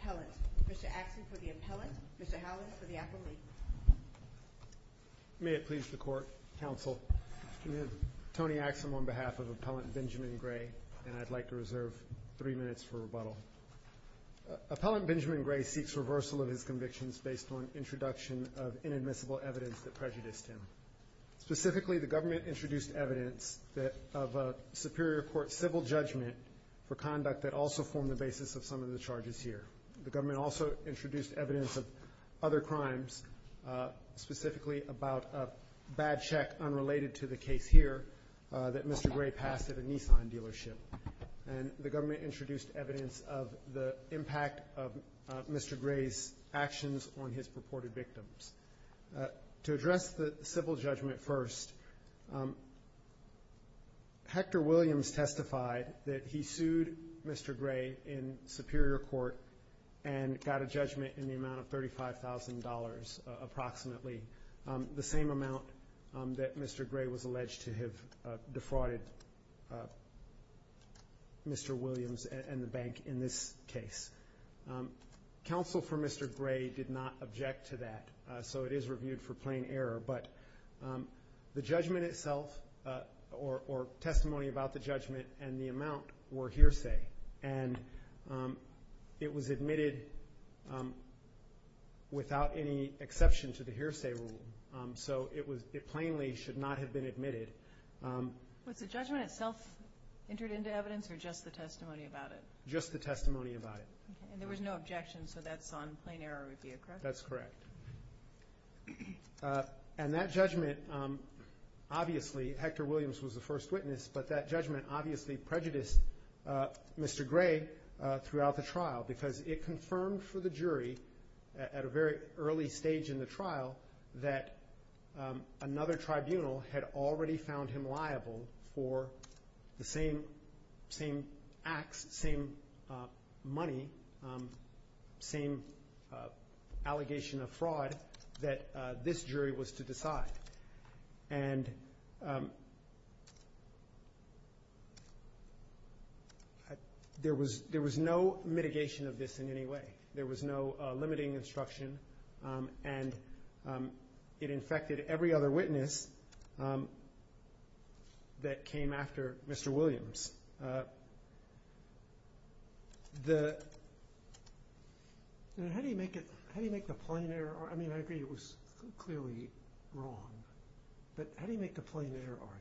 Appellant. Mr. Axsom, for the Appellant. Mr. Howlett, for the Appellant. May it please the Court, Counsel. Tony Axsom on behalf of Appellant Benjamin Grey and I'd like to reserve three minutes for rebuttal. Appellant Benjamin Grey seeks reversal of his convictions based on introduction of inadmissible evidence that prejudiced him. Specifically the government introduced evidence of a Superior Court civil judgment for conduct that also formed the basis of some of the charges here. The government also introduced evidence of other crimes, specifically about a bad check unrelated to the case here that Mr. Grey passed at a Nissan dealership. And the government introduced evidence of the impact of Mr. Grey's actions on his purported victims. To address the civil judgment first, Hector Williams testified that he sued Mr. Grey in Superior Court and got a judgment in the amount of $35,000 approximately, the same amount that Mr. Grey was alleged to have defrauded Mr. Grey. Counsel for Mr. Grey did not object to that, so it is reviewed for plain error. But the judgment itself, or testimony about the judgment and the amount, were hearsay. And it was admitted without any exception to the hearsay rule. So it was, it plainly should not have been admitted. Was the judgment itself entered into evidence or just the testimony about it? Just the testimony about it. And there was no objection, so that's on plain error review, correct? That's correct. And that judgment, obviously Hector Williams was the first witness, but that judgment obviously prejudiced Mr. Grey throughout the trial because it confirmed for the jury at a very early stage in the trial that another tribunal had already found him liable for the same acts, same money, same allegation of fraud that this jury was to decide. And there was no mitigation of this in any way. There was no mitigation that came after Mr. Williams. The, how do you make it, how do you make the plain error, I mean I agree it was clearly wrong, but how do you make the plain error argument?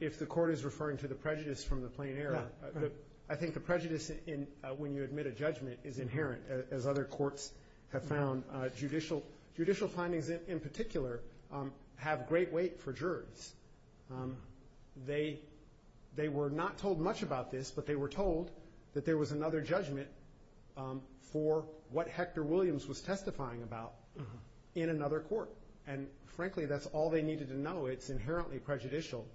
If the court is referring to the prejudice from the plain error, I think the prejudice when you admit a judgment is inherent, as other courts have found. Judicial findings in particular have great weight for jurors. They were not told much about this, but they were told that there was another judgment for what Hector Williams was testifying about in another court. And frankly that's all they needed to know. It's inherently prejudicial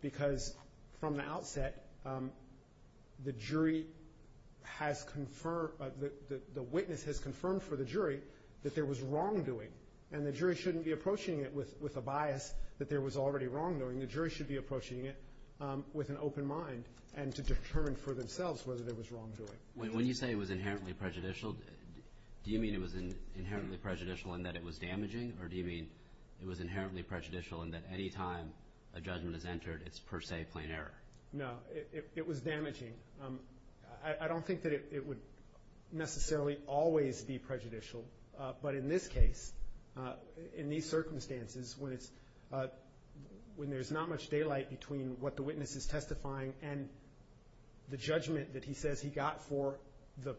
because from the outset the jury has confirmed, the witness has confirmed for the jury that there was wrongdoing. And the jury shouldn't be approaching it with a bias that there was already wrongdoing. The jury should be approaching it with an open mind and to determine for themselves whether there was wrongdoing. When you say it was inherently prejudicial, do you mean it was inherently prejudicial in that it was damaging or do you mean it was inherently prejudicial in that any time a judgment is entered it's per se plain error? No, it was damaging. I don't think that it would necessarily always be prejudicial, but in this case, in these circumstances, when there's not much daylight between what the witness is testifying and the judgment that he says he got for the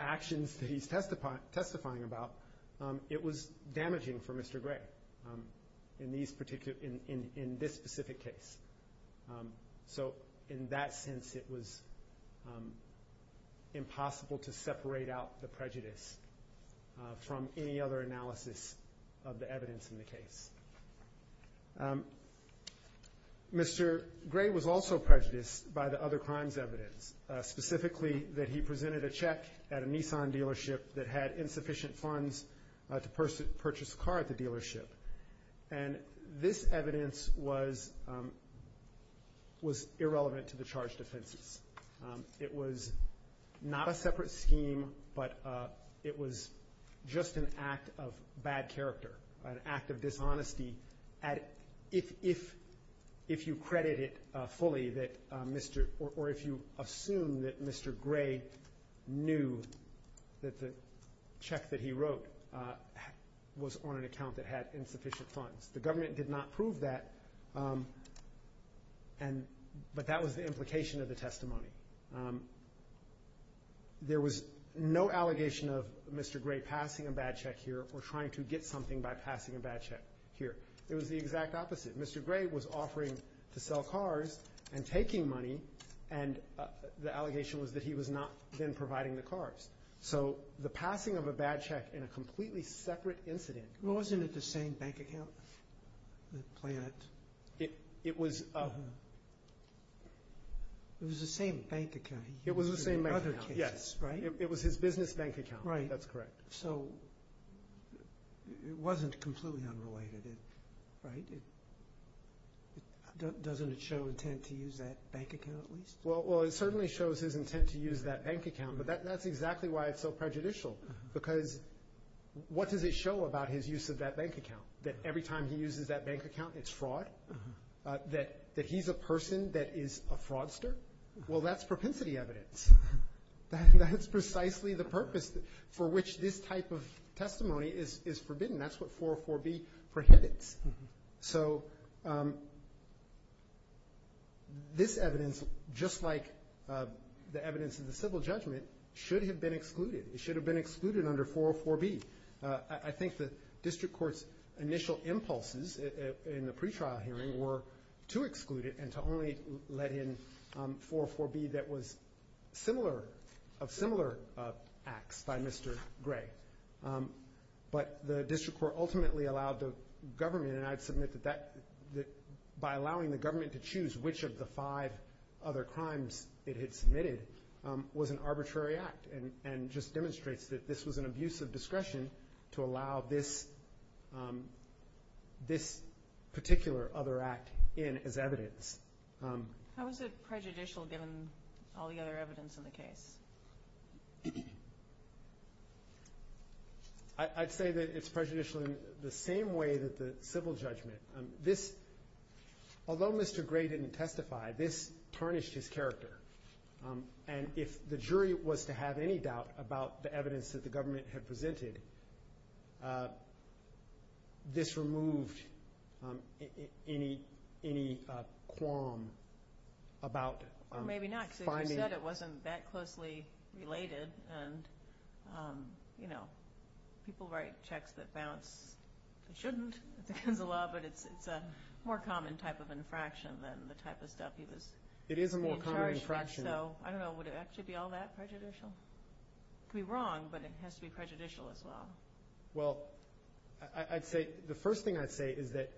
actions that he's testifying about, it was damaging for Mr. Gray in this specific case. So in that sense it was impossible to separate out the prejudice from any other analysis of the evidence in the case. Mr. Gray was also prejudiced by the other crimes evidence, specifically that he presented a check at a Nissan dealership that had insufficient funds to purchase a dealership. And this evidence was irrelevant to the charged offenses. It was not a separate scheme, but it was just an act of bad character, an act of dishonesty if you credit it fully that Mr. or if you assume that Mr. Gray knew that the check that he wrote was on an account that had insufficient funds. The government did not prove that, but that was the implication of the testimony. There was no allegation of Mr. Gray passing a bad check here or trying to get something by passing a bad check here. It was the exact opposite. Mr. Gray was offering to sell cars and taking money, and the allegation was that he was not then providing the cars. So the passing of a bad check in a completely separate incident... Well, wasn't it the same bank account? It was the same bank account. It was the same bank account. Yes. Right? It was his business bank account. Right. That's correct. So it wasn't completely unrelated, right? Doesn't it show intent to use that bank account? Well, it certainly shows his intent to use that bank account, but that's exactly why it's so prejudicial, because what does it show about his use of that bank account? That every time he uses that bank account, it's fraud? That he's a person that is a fraudster? Well, that's propensity evidence. That's precisely the purpose for which this type of testimony is forbidden. That's what 404B prohibits. So this evidence, just like the evidence in the civil judgment, should have been excluded. It should have been excluded under 404B. I think the district court's initial impulses in the pretrial hearing were to exclude it and to only let in 404B that was of similar acts by Mr. Gray. But the district court ultimately allowed the government, and I'd submit that by allowing the government to choose which of the five other crimes it had submitted was an arbitrary act, and just demonstrates that this was an abuse of discretion to allow this particular other act in as evidence. How is it prejudicial given all the other evidence in the case? I'd say that it's prejudicial in the same way that the civil judgment. This, although Mr. Gray didn't testify, this tarnished his character. And if the jury was to have any doubt about the evidence that the government had presented, this removed any qualm about finding... Well, maybe not, because as you said, it wasn't that closely related. And, you know, people write checks that balance, they shouldn't, it's against the law, but it's a more common type of infraction than the type of stuff he was in charge of. So, I don't know, would it actually be all that prejudicial? It could be wrong, but it has to be prejudicial as well. Well, I'd say, the first thing I'd say is that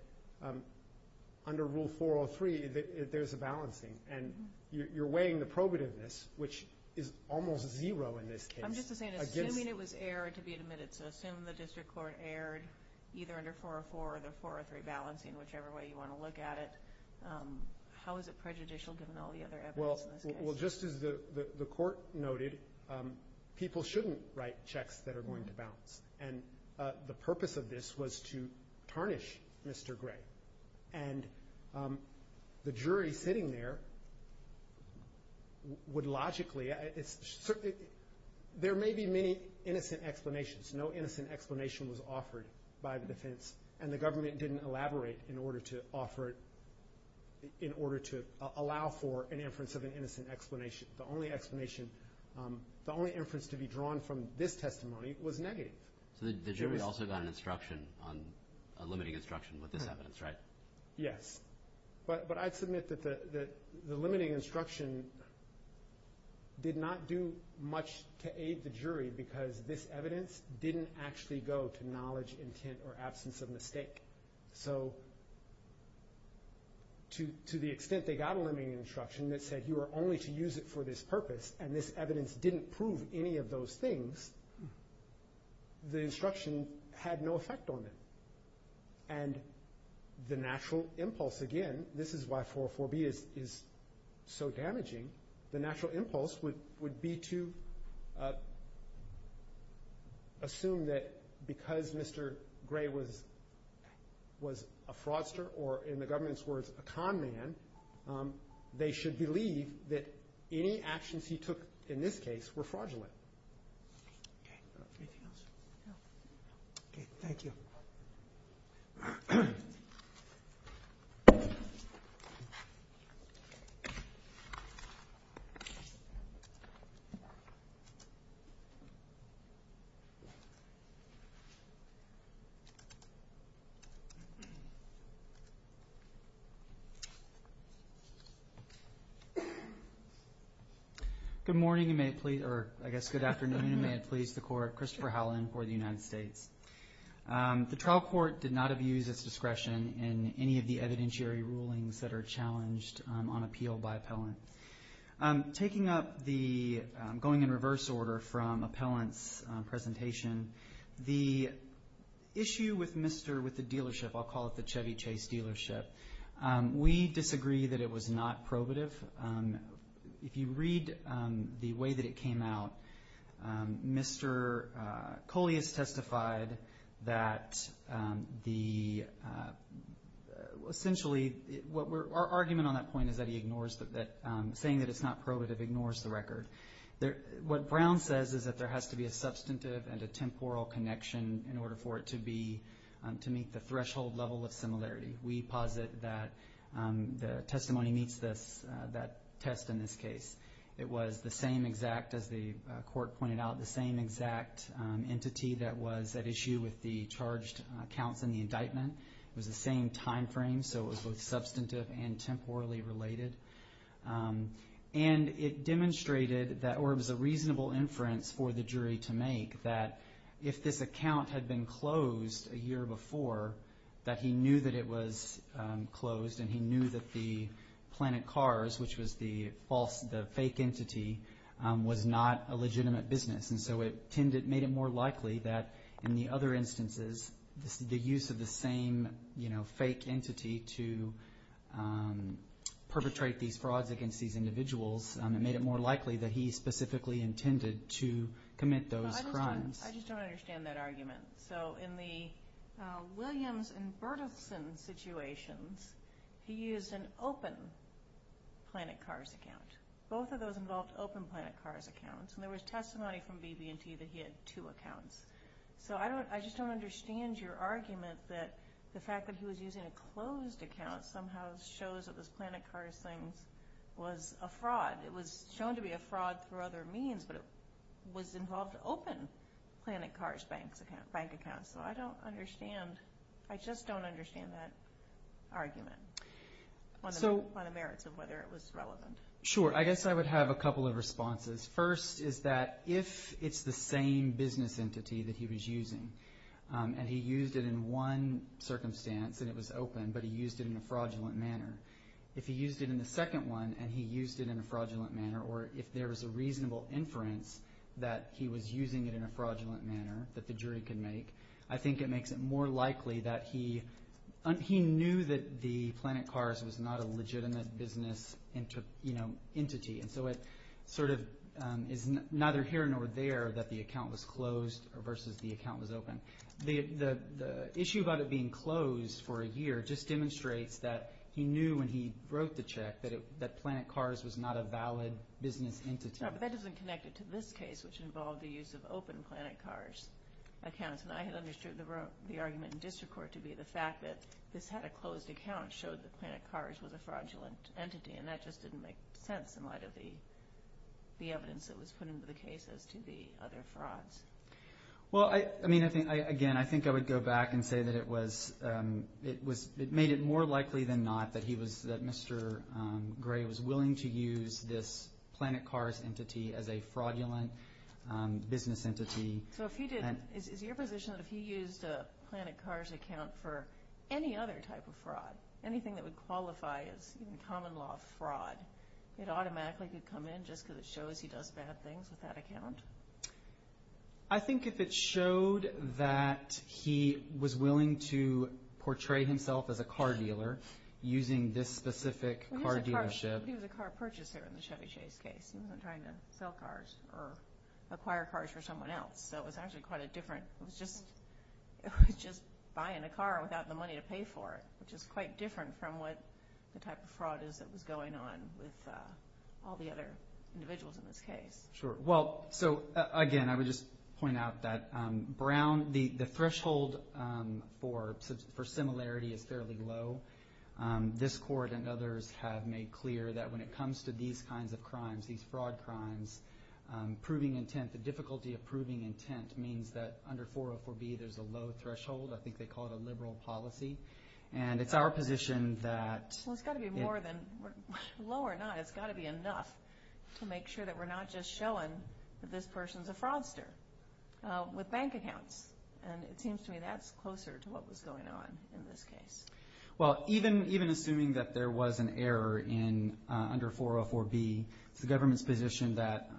under Rule 403, there's a balancing. And you're weighing the probativeness, which is almost zero in this case. I'm just saying, assuming it was aired to be admitted, so assume the district court aired either under 404 or the 403 balancing, whichever way you want to look at it, how is it prejudicial given all the other evidence in this case? Well, just as the court noted, people shouldn't write checks that are going to balance. And the purpose of this was to tarnish Mr. Gray. And the jury sitting there would logically, there may be many innocent explanations. No innocent explanation was offered by the defense. And the government didn't elaborate in order to offer it, in order to allow for an inference of an innocent explanation. The only explanation, the only inference to be drawn from this testimony was negative. So the jury also got an instruction, a limiting instruction with this evidence, right? Yes. But I'd submit that the limiting instruction did not do much to aid the jury because this evidence didn't actually go to knowledge, intent, or absence of mistake. So to the extent they got a limiting instruction that said, you are only to use it for this purpose, and this evidence didn't prove any of those things, the instruction had no effect on them. And the natural impulse, again, this is why 404B is so damaging, the natural impulse would be to assume that because Mr. Gray was a fraudster, or in the government's words, a con man, they should believe that any actions he took in this case were fraudulent. Okay. Anything else? No. Okay. Thank you. Good morning, or I guess good afternoon, and may it please the Court. Christopher Howland for the United States. The trial court did not abuse its discretion in any of the evidentiary rulings that are challenged on appeal by appellant. Taking up the going in reverse order from appellant's presentation, the issue with the dealership, I'll call it the Chevy Chase dealership, we disagree that it was not probative. If you read the way that it came out, Mr. Coley has testified that essentially, our argument on that point is that he ignores that, saying that it's not probative ignores the record. What Brown says is that there has to be a substantive and a temporal connection in order for it to meet the threshold level of similarity. We posit that the testimony meets that test in this case. It was the same exact, as the Court pointed out, the same exact entity that was at issue with the charged accounts in the indictment. It was the same time frame, so it was both substantive and temporally related. And it demonstrated that, or it was a reasonable inference for the jury to make, that if this account had been closed a year before, that he knew that it was closed, and he knew that the Planet Cars, which was the fake entity, was not a legitimate business. And so it made it more likely that in the other instances, the use of the same fake entity to perpetrate these frauds against these individuals, it made it more likely that he specifically intended to commit those crimes. I just don't understand that argument. So in the Williams and Berthelsen situations, he used an open Planet Cars account. Both of those involved open Planet Cars accounts, and there was testimony from BB&T that he had two accounts. So I just don't understand your argument that the fact that he was using a closed account somehow shows that this Planet Cars thing was a fraud. It was shown to be a fraud through other means, but it was involved open Planet Cars bank accounts. So I don't understand. I just don't understand that argument on the merits of whether it was relevant. Sure. I guess I would have a couple of responses. First is that if it's the same business entity that he was using, and he used it in one circumstance and it was open, but he used it in a fraudulent manner, if he used it in the second one and he used it in a fraudulent manner, or if there was a reasonable inference that he was using it in a fraudulent manner that the jury could make, I think it makes it more likely that he knew that the Planet Cars was not a legitimate business entity. And so it sort of is neither here nor there that the account was closed versus the account was open. The issue about it being closed for a year just demonstrates that he knew when he wrote the check that Planet Cars was not a valid business entity. No, but that doesn't connect it to this case, which involved the use of open Planet Cars accounts. And I had understood the argument in district court to be the fact that this had a closed account showed that Planet Cars was a fraudulent entity, and that just didn't make sense in light of the evidence that was put into the case as to the other frauds. Well, again, I think I would go back and say that it made it more likely than not that Mr. Gray was willing to use this Planet Cars entity as a fraudulent business entity. So is your position that if he used a Planet Cars account for any other type of fraud, anything that would qualify as common law fraud, it automatically could come in just because it shows he does bad things with that account? I think if it showed that he was willing to portray himself as a car dealer using this specific car dealership— Well, he was a car purchaser in the Chevy Chase case. He wasn't trying to sell cars or acquire cars for someone else. So it was actually quite a different—it was just buying a car without the money to pay for it, which is quite different from what the type of fraud is that was going on with all the other individuals in this case. Sure. Well, so again, I would just point out that Brown— the threshold for similarity is fairly low. This court and others have made clear that when it comes to these kinds of crimes, these fraud crimes, the difficulty of proving intent means that under 404B there's a low threshold. I think they call it a liberal policy. And it's our position that— Well, it's got to be more than low or not. It's got to be enough to make sure that we're not just showing that this person's a fraudster with bank accounts. And it seems to me that's closer to what was going on in this case. Well, even assuming that there was an error under 404B, it's the government's position that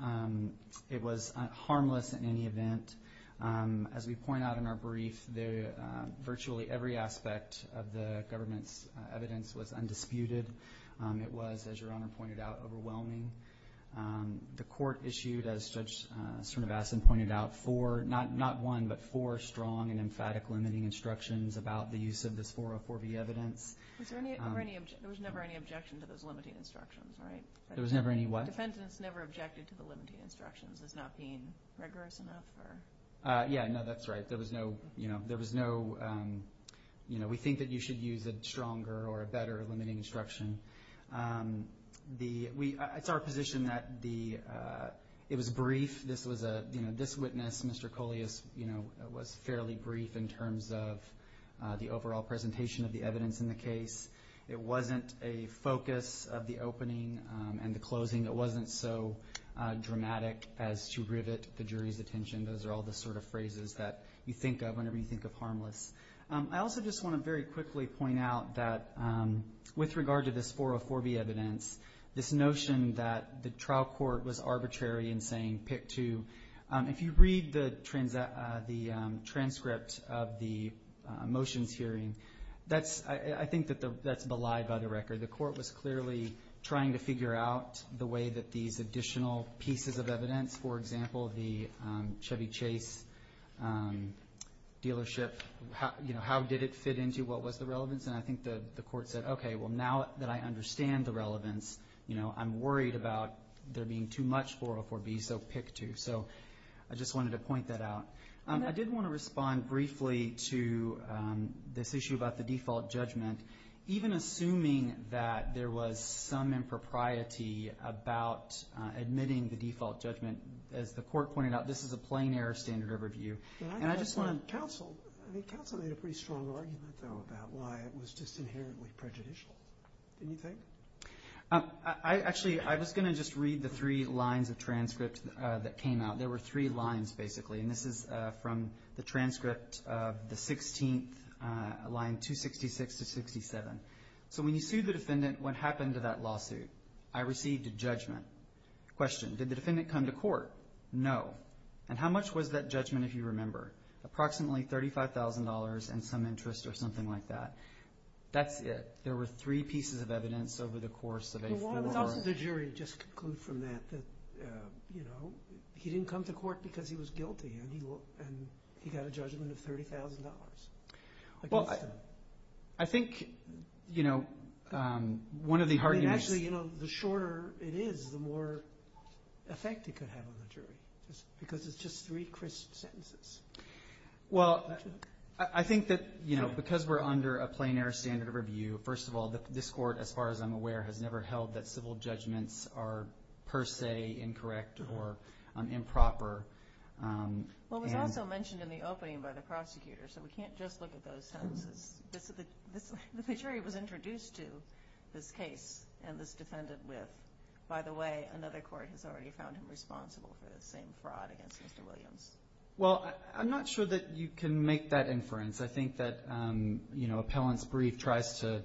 it was harmless in any event. As we point out in our brief, virtually every aspect of the government's evidence was undisputed. It was, as Your Honor pointed out, overwhelming. The court issued, as Judge Srinivasan pointed out, four— not one, but four strong and emphatic limiting instructions about the use of this 404B evidence. There was never any objection to those limiting instructions, right? There was never any what? The defendant's never objected to the limiting instructions as not being rigorous enough? Yeah, no, that's right. There was no—we think that you should use a stronger or a better limiting instruction. It's our position that it was brief. This witness, Mr. Coleus, was fairly brief in terms of the overall presentation of the evidence in the case. It wasn't a focus of the opening and the closing. It wasn't so dramatic as to rivet the jury's attention. Those are all the sort of phrases that you think of whenever you think of harmless. I also just want to very quickly point out that with regard to this 404B evidence, this notion that the trial court was arbitrary in saying pick two, if you read the transcript of the motions hearing, I think that that's belied by the record. The court was clearly trying to figure out the way that these additional pieces of evidence, for example, the Chevy Chase dealership, how did it fit into what was the relevance? And I think the court said, okay, well, now that I understand the relevance, I'm worried about there being too much 404B, so pick two. So I just wanted to point that out. I did want to respond briefly to this issue about the default judgment. Even assuming that there was some impropriety about admitting the default judgment, as the court pointed out, this is a plain error standard of review. And I just want to counsel. Counsel made a pretty strong argument, though, about why it was just inherently prejudicial. Didn't you think? Actually, I was going to just read the three lines of transcript that came out. There were three lines, basically, and this is from the transcript of the 16th, line 266 to 67. So when you sued the defendant, what happened to that lawsuit? I received a judgment. Question, did the defendant come to court? No. And how much was that judgment, if you remember? Approximately $35,000 and some interest or something like that. That's it. There were three pieces of evidence over the course of a four-hour. It's up to the jury to just conclude from that that, you know, he didn't come to court because he was guilty and he got a judgment of $30,000. Well, I think, you know, one of the arguments. I mean, actually, you know, the shorter it is, the more effect it could have on the jury because it's just three crisp sentences. Well, I think that, you know, because we're under a plain error standard of review, first of all, this court, as far as I'm aware, has never held that civil judgments are per se incorrect or improper. Well, it was also mentioned in the opening by the prosecutor, so we can't just look at those sentences. The jury was introduced to this case and this defendant with, by the way, another court has already found him responsible for the same fraud against Mr. Williams. Well, I'm not sure that you can make that inference. I think that, you know, appellant's brief tries to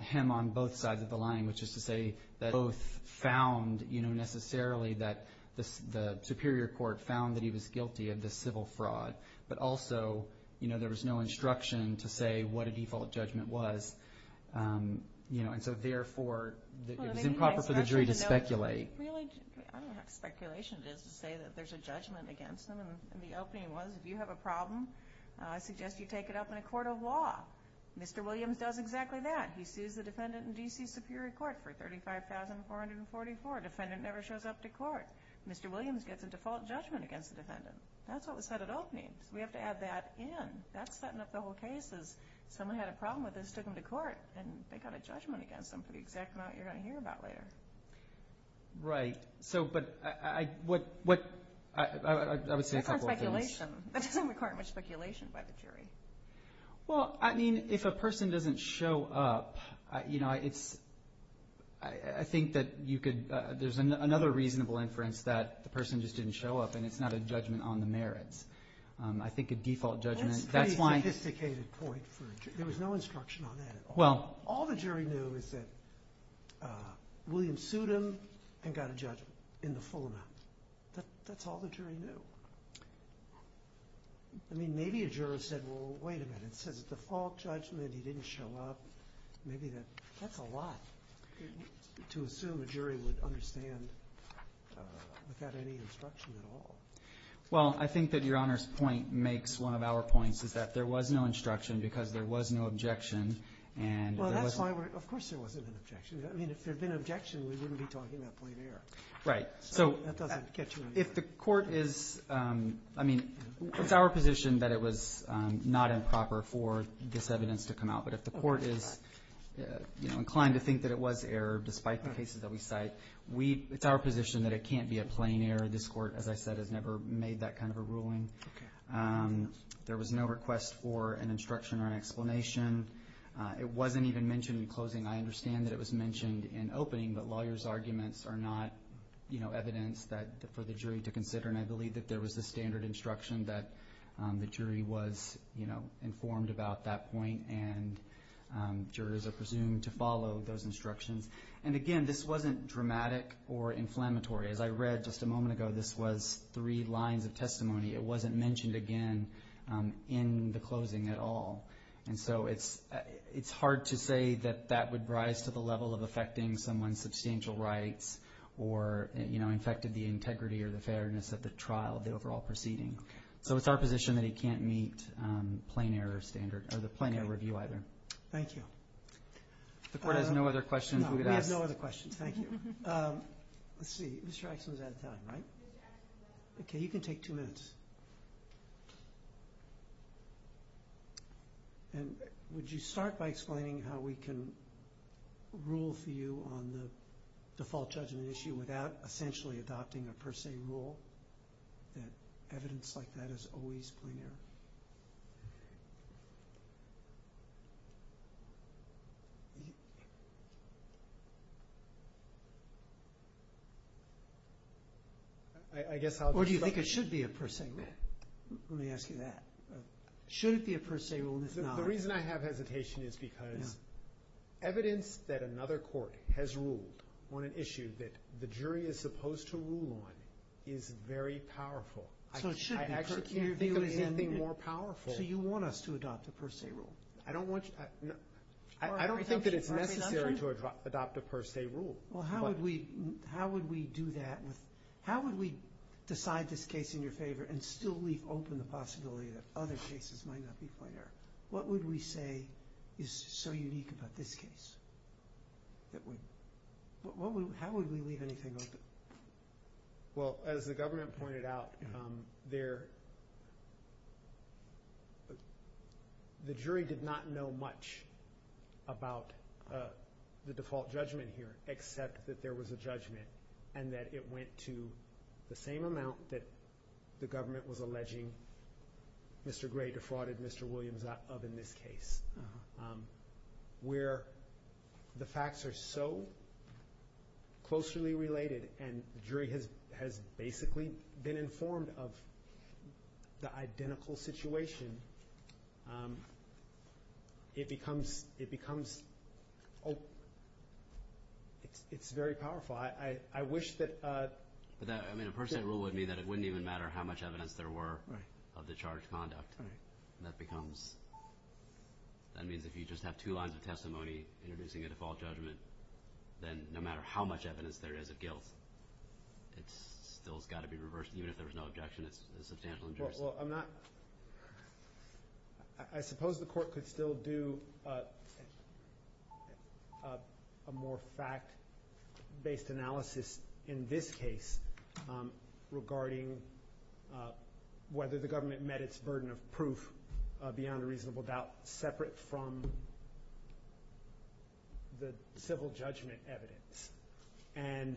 hem on both sides of the line, which is to say that both found, you know, necessarily that the superior court found that he was guilty of this civil fraud, but also, you know, there was no instruction to say what a default judgment was, you know, and so therefore it was improper for the jury to speculate. I don't know how speculation it is to say that there's a judgment against him. And the opening was, if you have a problem, I suggest you take it up in a court of law. Mr. Williams does exactly that. He sues the defendant in D.C.'s superior court for $35,444. Defendant never shows up to court. Mr. Williams gets a default judgment against the defendant. That's what was said at opening, so we have to add that in. That's setting up the whole case as someone had a problem with this, took him to court, and they got a judgment against him for the exact amount you're going to hear about later. Right. So, but I would say a couple of things. That's not speculation. That doesn't require much speculation by the jury. Well, I mean, if a person doesn't show up, you know, I think that you could – there's another reasonable inference that the person just didn't show up and it's not a judgment on the merits. I think a default judgment – That's a pretty sophisticated point for a jury. There was no instruction on that at all. Well, all the jury knew is that Williams sued him and got a judgment in the full amount. That's all the jury knew. I mean, maybe a juror said, well, wait a minute. It says a default judgment, he didn't show up. Maybe that – that's a lot to assume a jury would understand without any instruction at all. Well, I think that Your Honor's point makes one of our points is that there was no instruction because there was no objection and – Well, that's why we're – of course there wasn't an objection. I mean, if there had been an objection, we wouldn't be talking about plain error. Right. So that doesn't get you anywhere. If the court is – I mean, it's our position that it was not improper for this evidence to come out. But if the court is, you know, inclined to think that it was error despite the cases that we cite, we – it's our position that it can't be a plain error. This court, as I said, has never made that kind of a ruling. Okay. There was no request for an instruction or an explanation. It wasn't even mentioned in closing. I understand that it was mentioned in opening, but lawyers' arguments are not, you know, evidence that – for the jury to consider. And I believe that there was a standard instruction that the jury was, you know, informed about that point and jurors are presumed to follow those instructions. And, again, this wasn't dramatic or inflammatory. As I read just a moment ago, this was three lines of testimony. It wasn't mentioned again in the closing at all. And so it's hard to say that that would rise to the level of affecting someone's substantial rights or, you know, infected the integrity or the fairness of the trial, the overall proceeding. So it's our position that it can't meet plain error standard – or the plain error review either. Okay. Thank you. If the court has no other questions, we could ask. No, we have no other questions. Thank you. Let's see. Mr. Axelman's out of time, right? Okay. You can take two minutes. And would you start by explaining how we can rule for you on the default judgment issue without essentially adopting a per se rule that evidence like that is always plain error? Or do you think it should be a per se rule? Let me ask you that. Should it be a per se rule and if not – The reason I have hesitation is because evidence that another court has ruled on an issue that the jury is supposed to rule on is very powerful. So it should be. I actually can't think of anything more powerful. So you want us to adopt a per se rule? I don't want – I don't think that it's necessary to adopt a per se rule. Well, how would we do that with – how would we decide this case in your favor and still leave open the possibility that other cases might not be plain error? What would we say is so unique about this case? How would we leave anything open? Well, as the government pointed out, there – the jury did not know much about the default judgment here except that there was a judgment and that it went to the same amount that the government was alleging Mr. Gray defrauded Mr. Williams of in this case. Where the facts are so closely related and the jury has basically been informed of the identical situation, it becomes – it's very powerful. I wish that – But that – I mean, a per se rule would mean that it wouldn't even matter how much evidence there were of the charged conduct. That becomes – that means if you just have two lines of testimony introducing a default judgment, then no matter how much evidence there is of guilt, it still has got to be reversed. Even if there was no objection, it's a substantial injustice. Well, I'm not – I suppose the court could still do a more fact-based analysis in this case regarding whether the government met its burden of proof beyond a reasonable doubt separate from the civil judgment evidence. And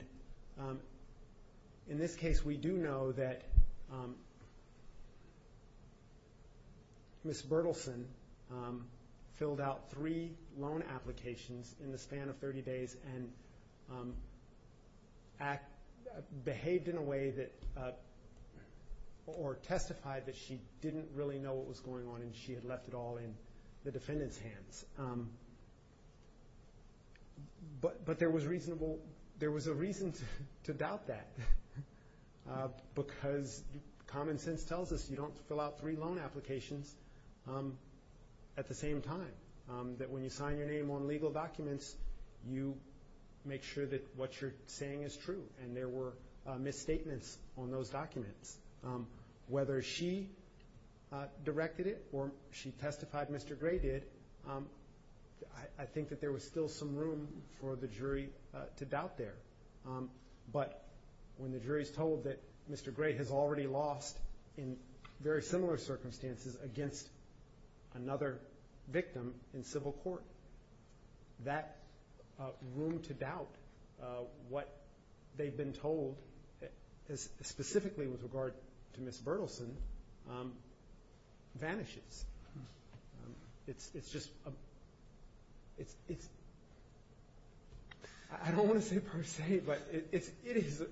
in this case, we do know that Ms. Bertelsen filled out three loan applications in the span of 30 days and behaved in a way that – that she knew what was going on and she had left it all in the defendant's hands. But there was reasonable – there was a reason to doubt that because common sense tells us you don't fill out three loan applications at the same time. That when you sign your name on legal documents, you make sure that what you're saying is true and there were misstatements on those documents. Whether she directed it or she testified Mr. Gray did, I think that there was still some room for the jury to doubt there. But when the jury is told that Mr. Gray has already lost in very similar circumstances against another victim in civil court, that room to doubt what they've been told specifically with regard to Ms. Bertelsen vanishes. It's just – I don't want to say per se, but it is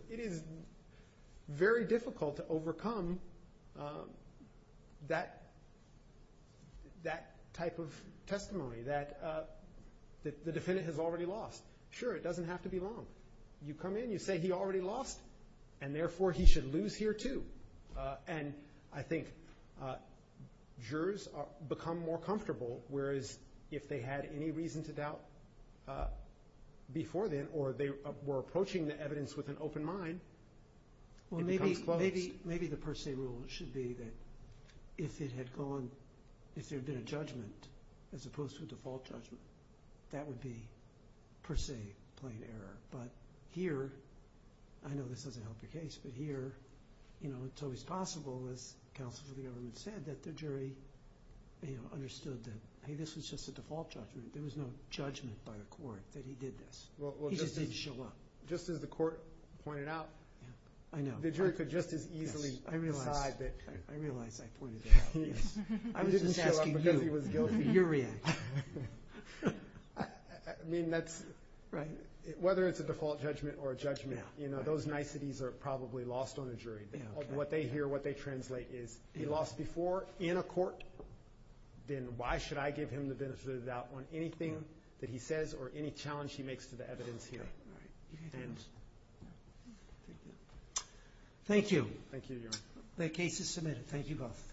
very difficult to overcome that type of testimony that the defendant has already lost. Sure, it doesn't have to be long. You come in, you say he already lost, and therefore he should lose here too. And I think jurors become more comfortable, whereas if they had any reason to doubt before then or they were approaching the evidence with an open mind, it becomes closed. Well, maybe the per se rule should be that if it had gone – if there had been a judgment as opposed to a default judgment, that would be per se plain error. But here – I know this doesn't help your case, but here it's always possible, as counsel for the government said, that the jury understood that, hey, this was just a default judgment. There was no judgment by the court that he did this. He just didn't show up. Just as the court pointed out, the jury could just as easily decide that – I realize I pointed that out. I was just asking you, your reaction. I mean, that's – whether it's a default judgment or a judgment, those niceties are probably lost on a jury. What they hear, what they translate is he lost before in a court, then why should I give him the benefit of the doubt on anything that he says or any challenge he makes to the evidence here. Thank you. Thank you, Your Honor. The case is submitted. Thank you both.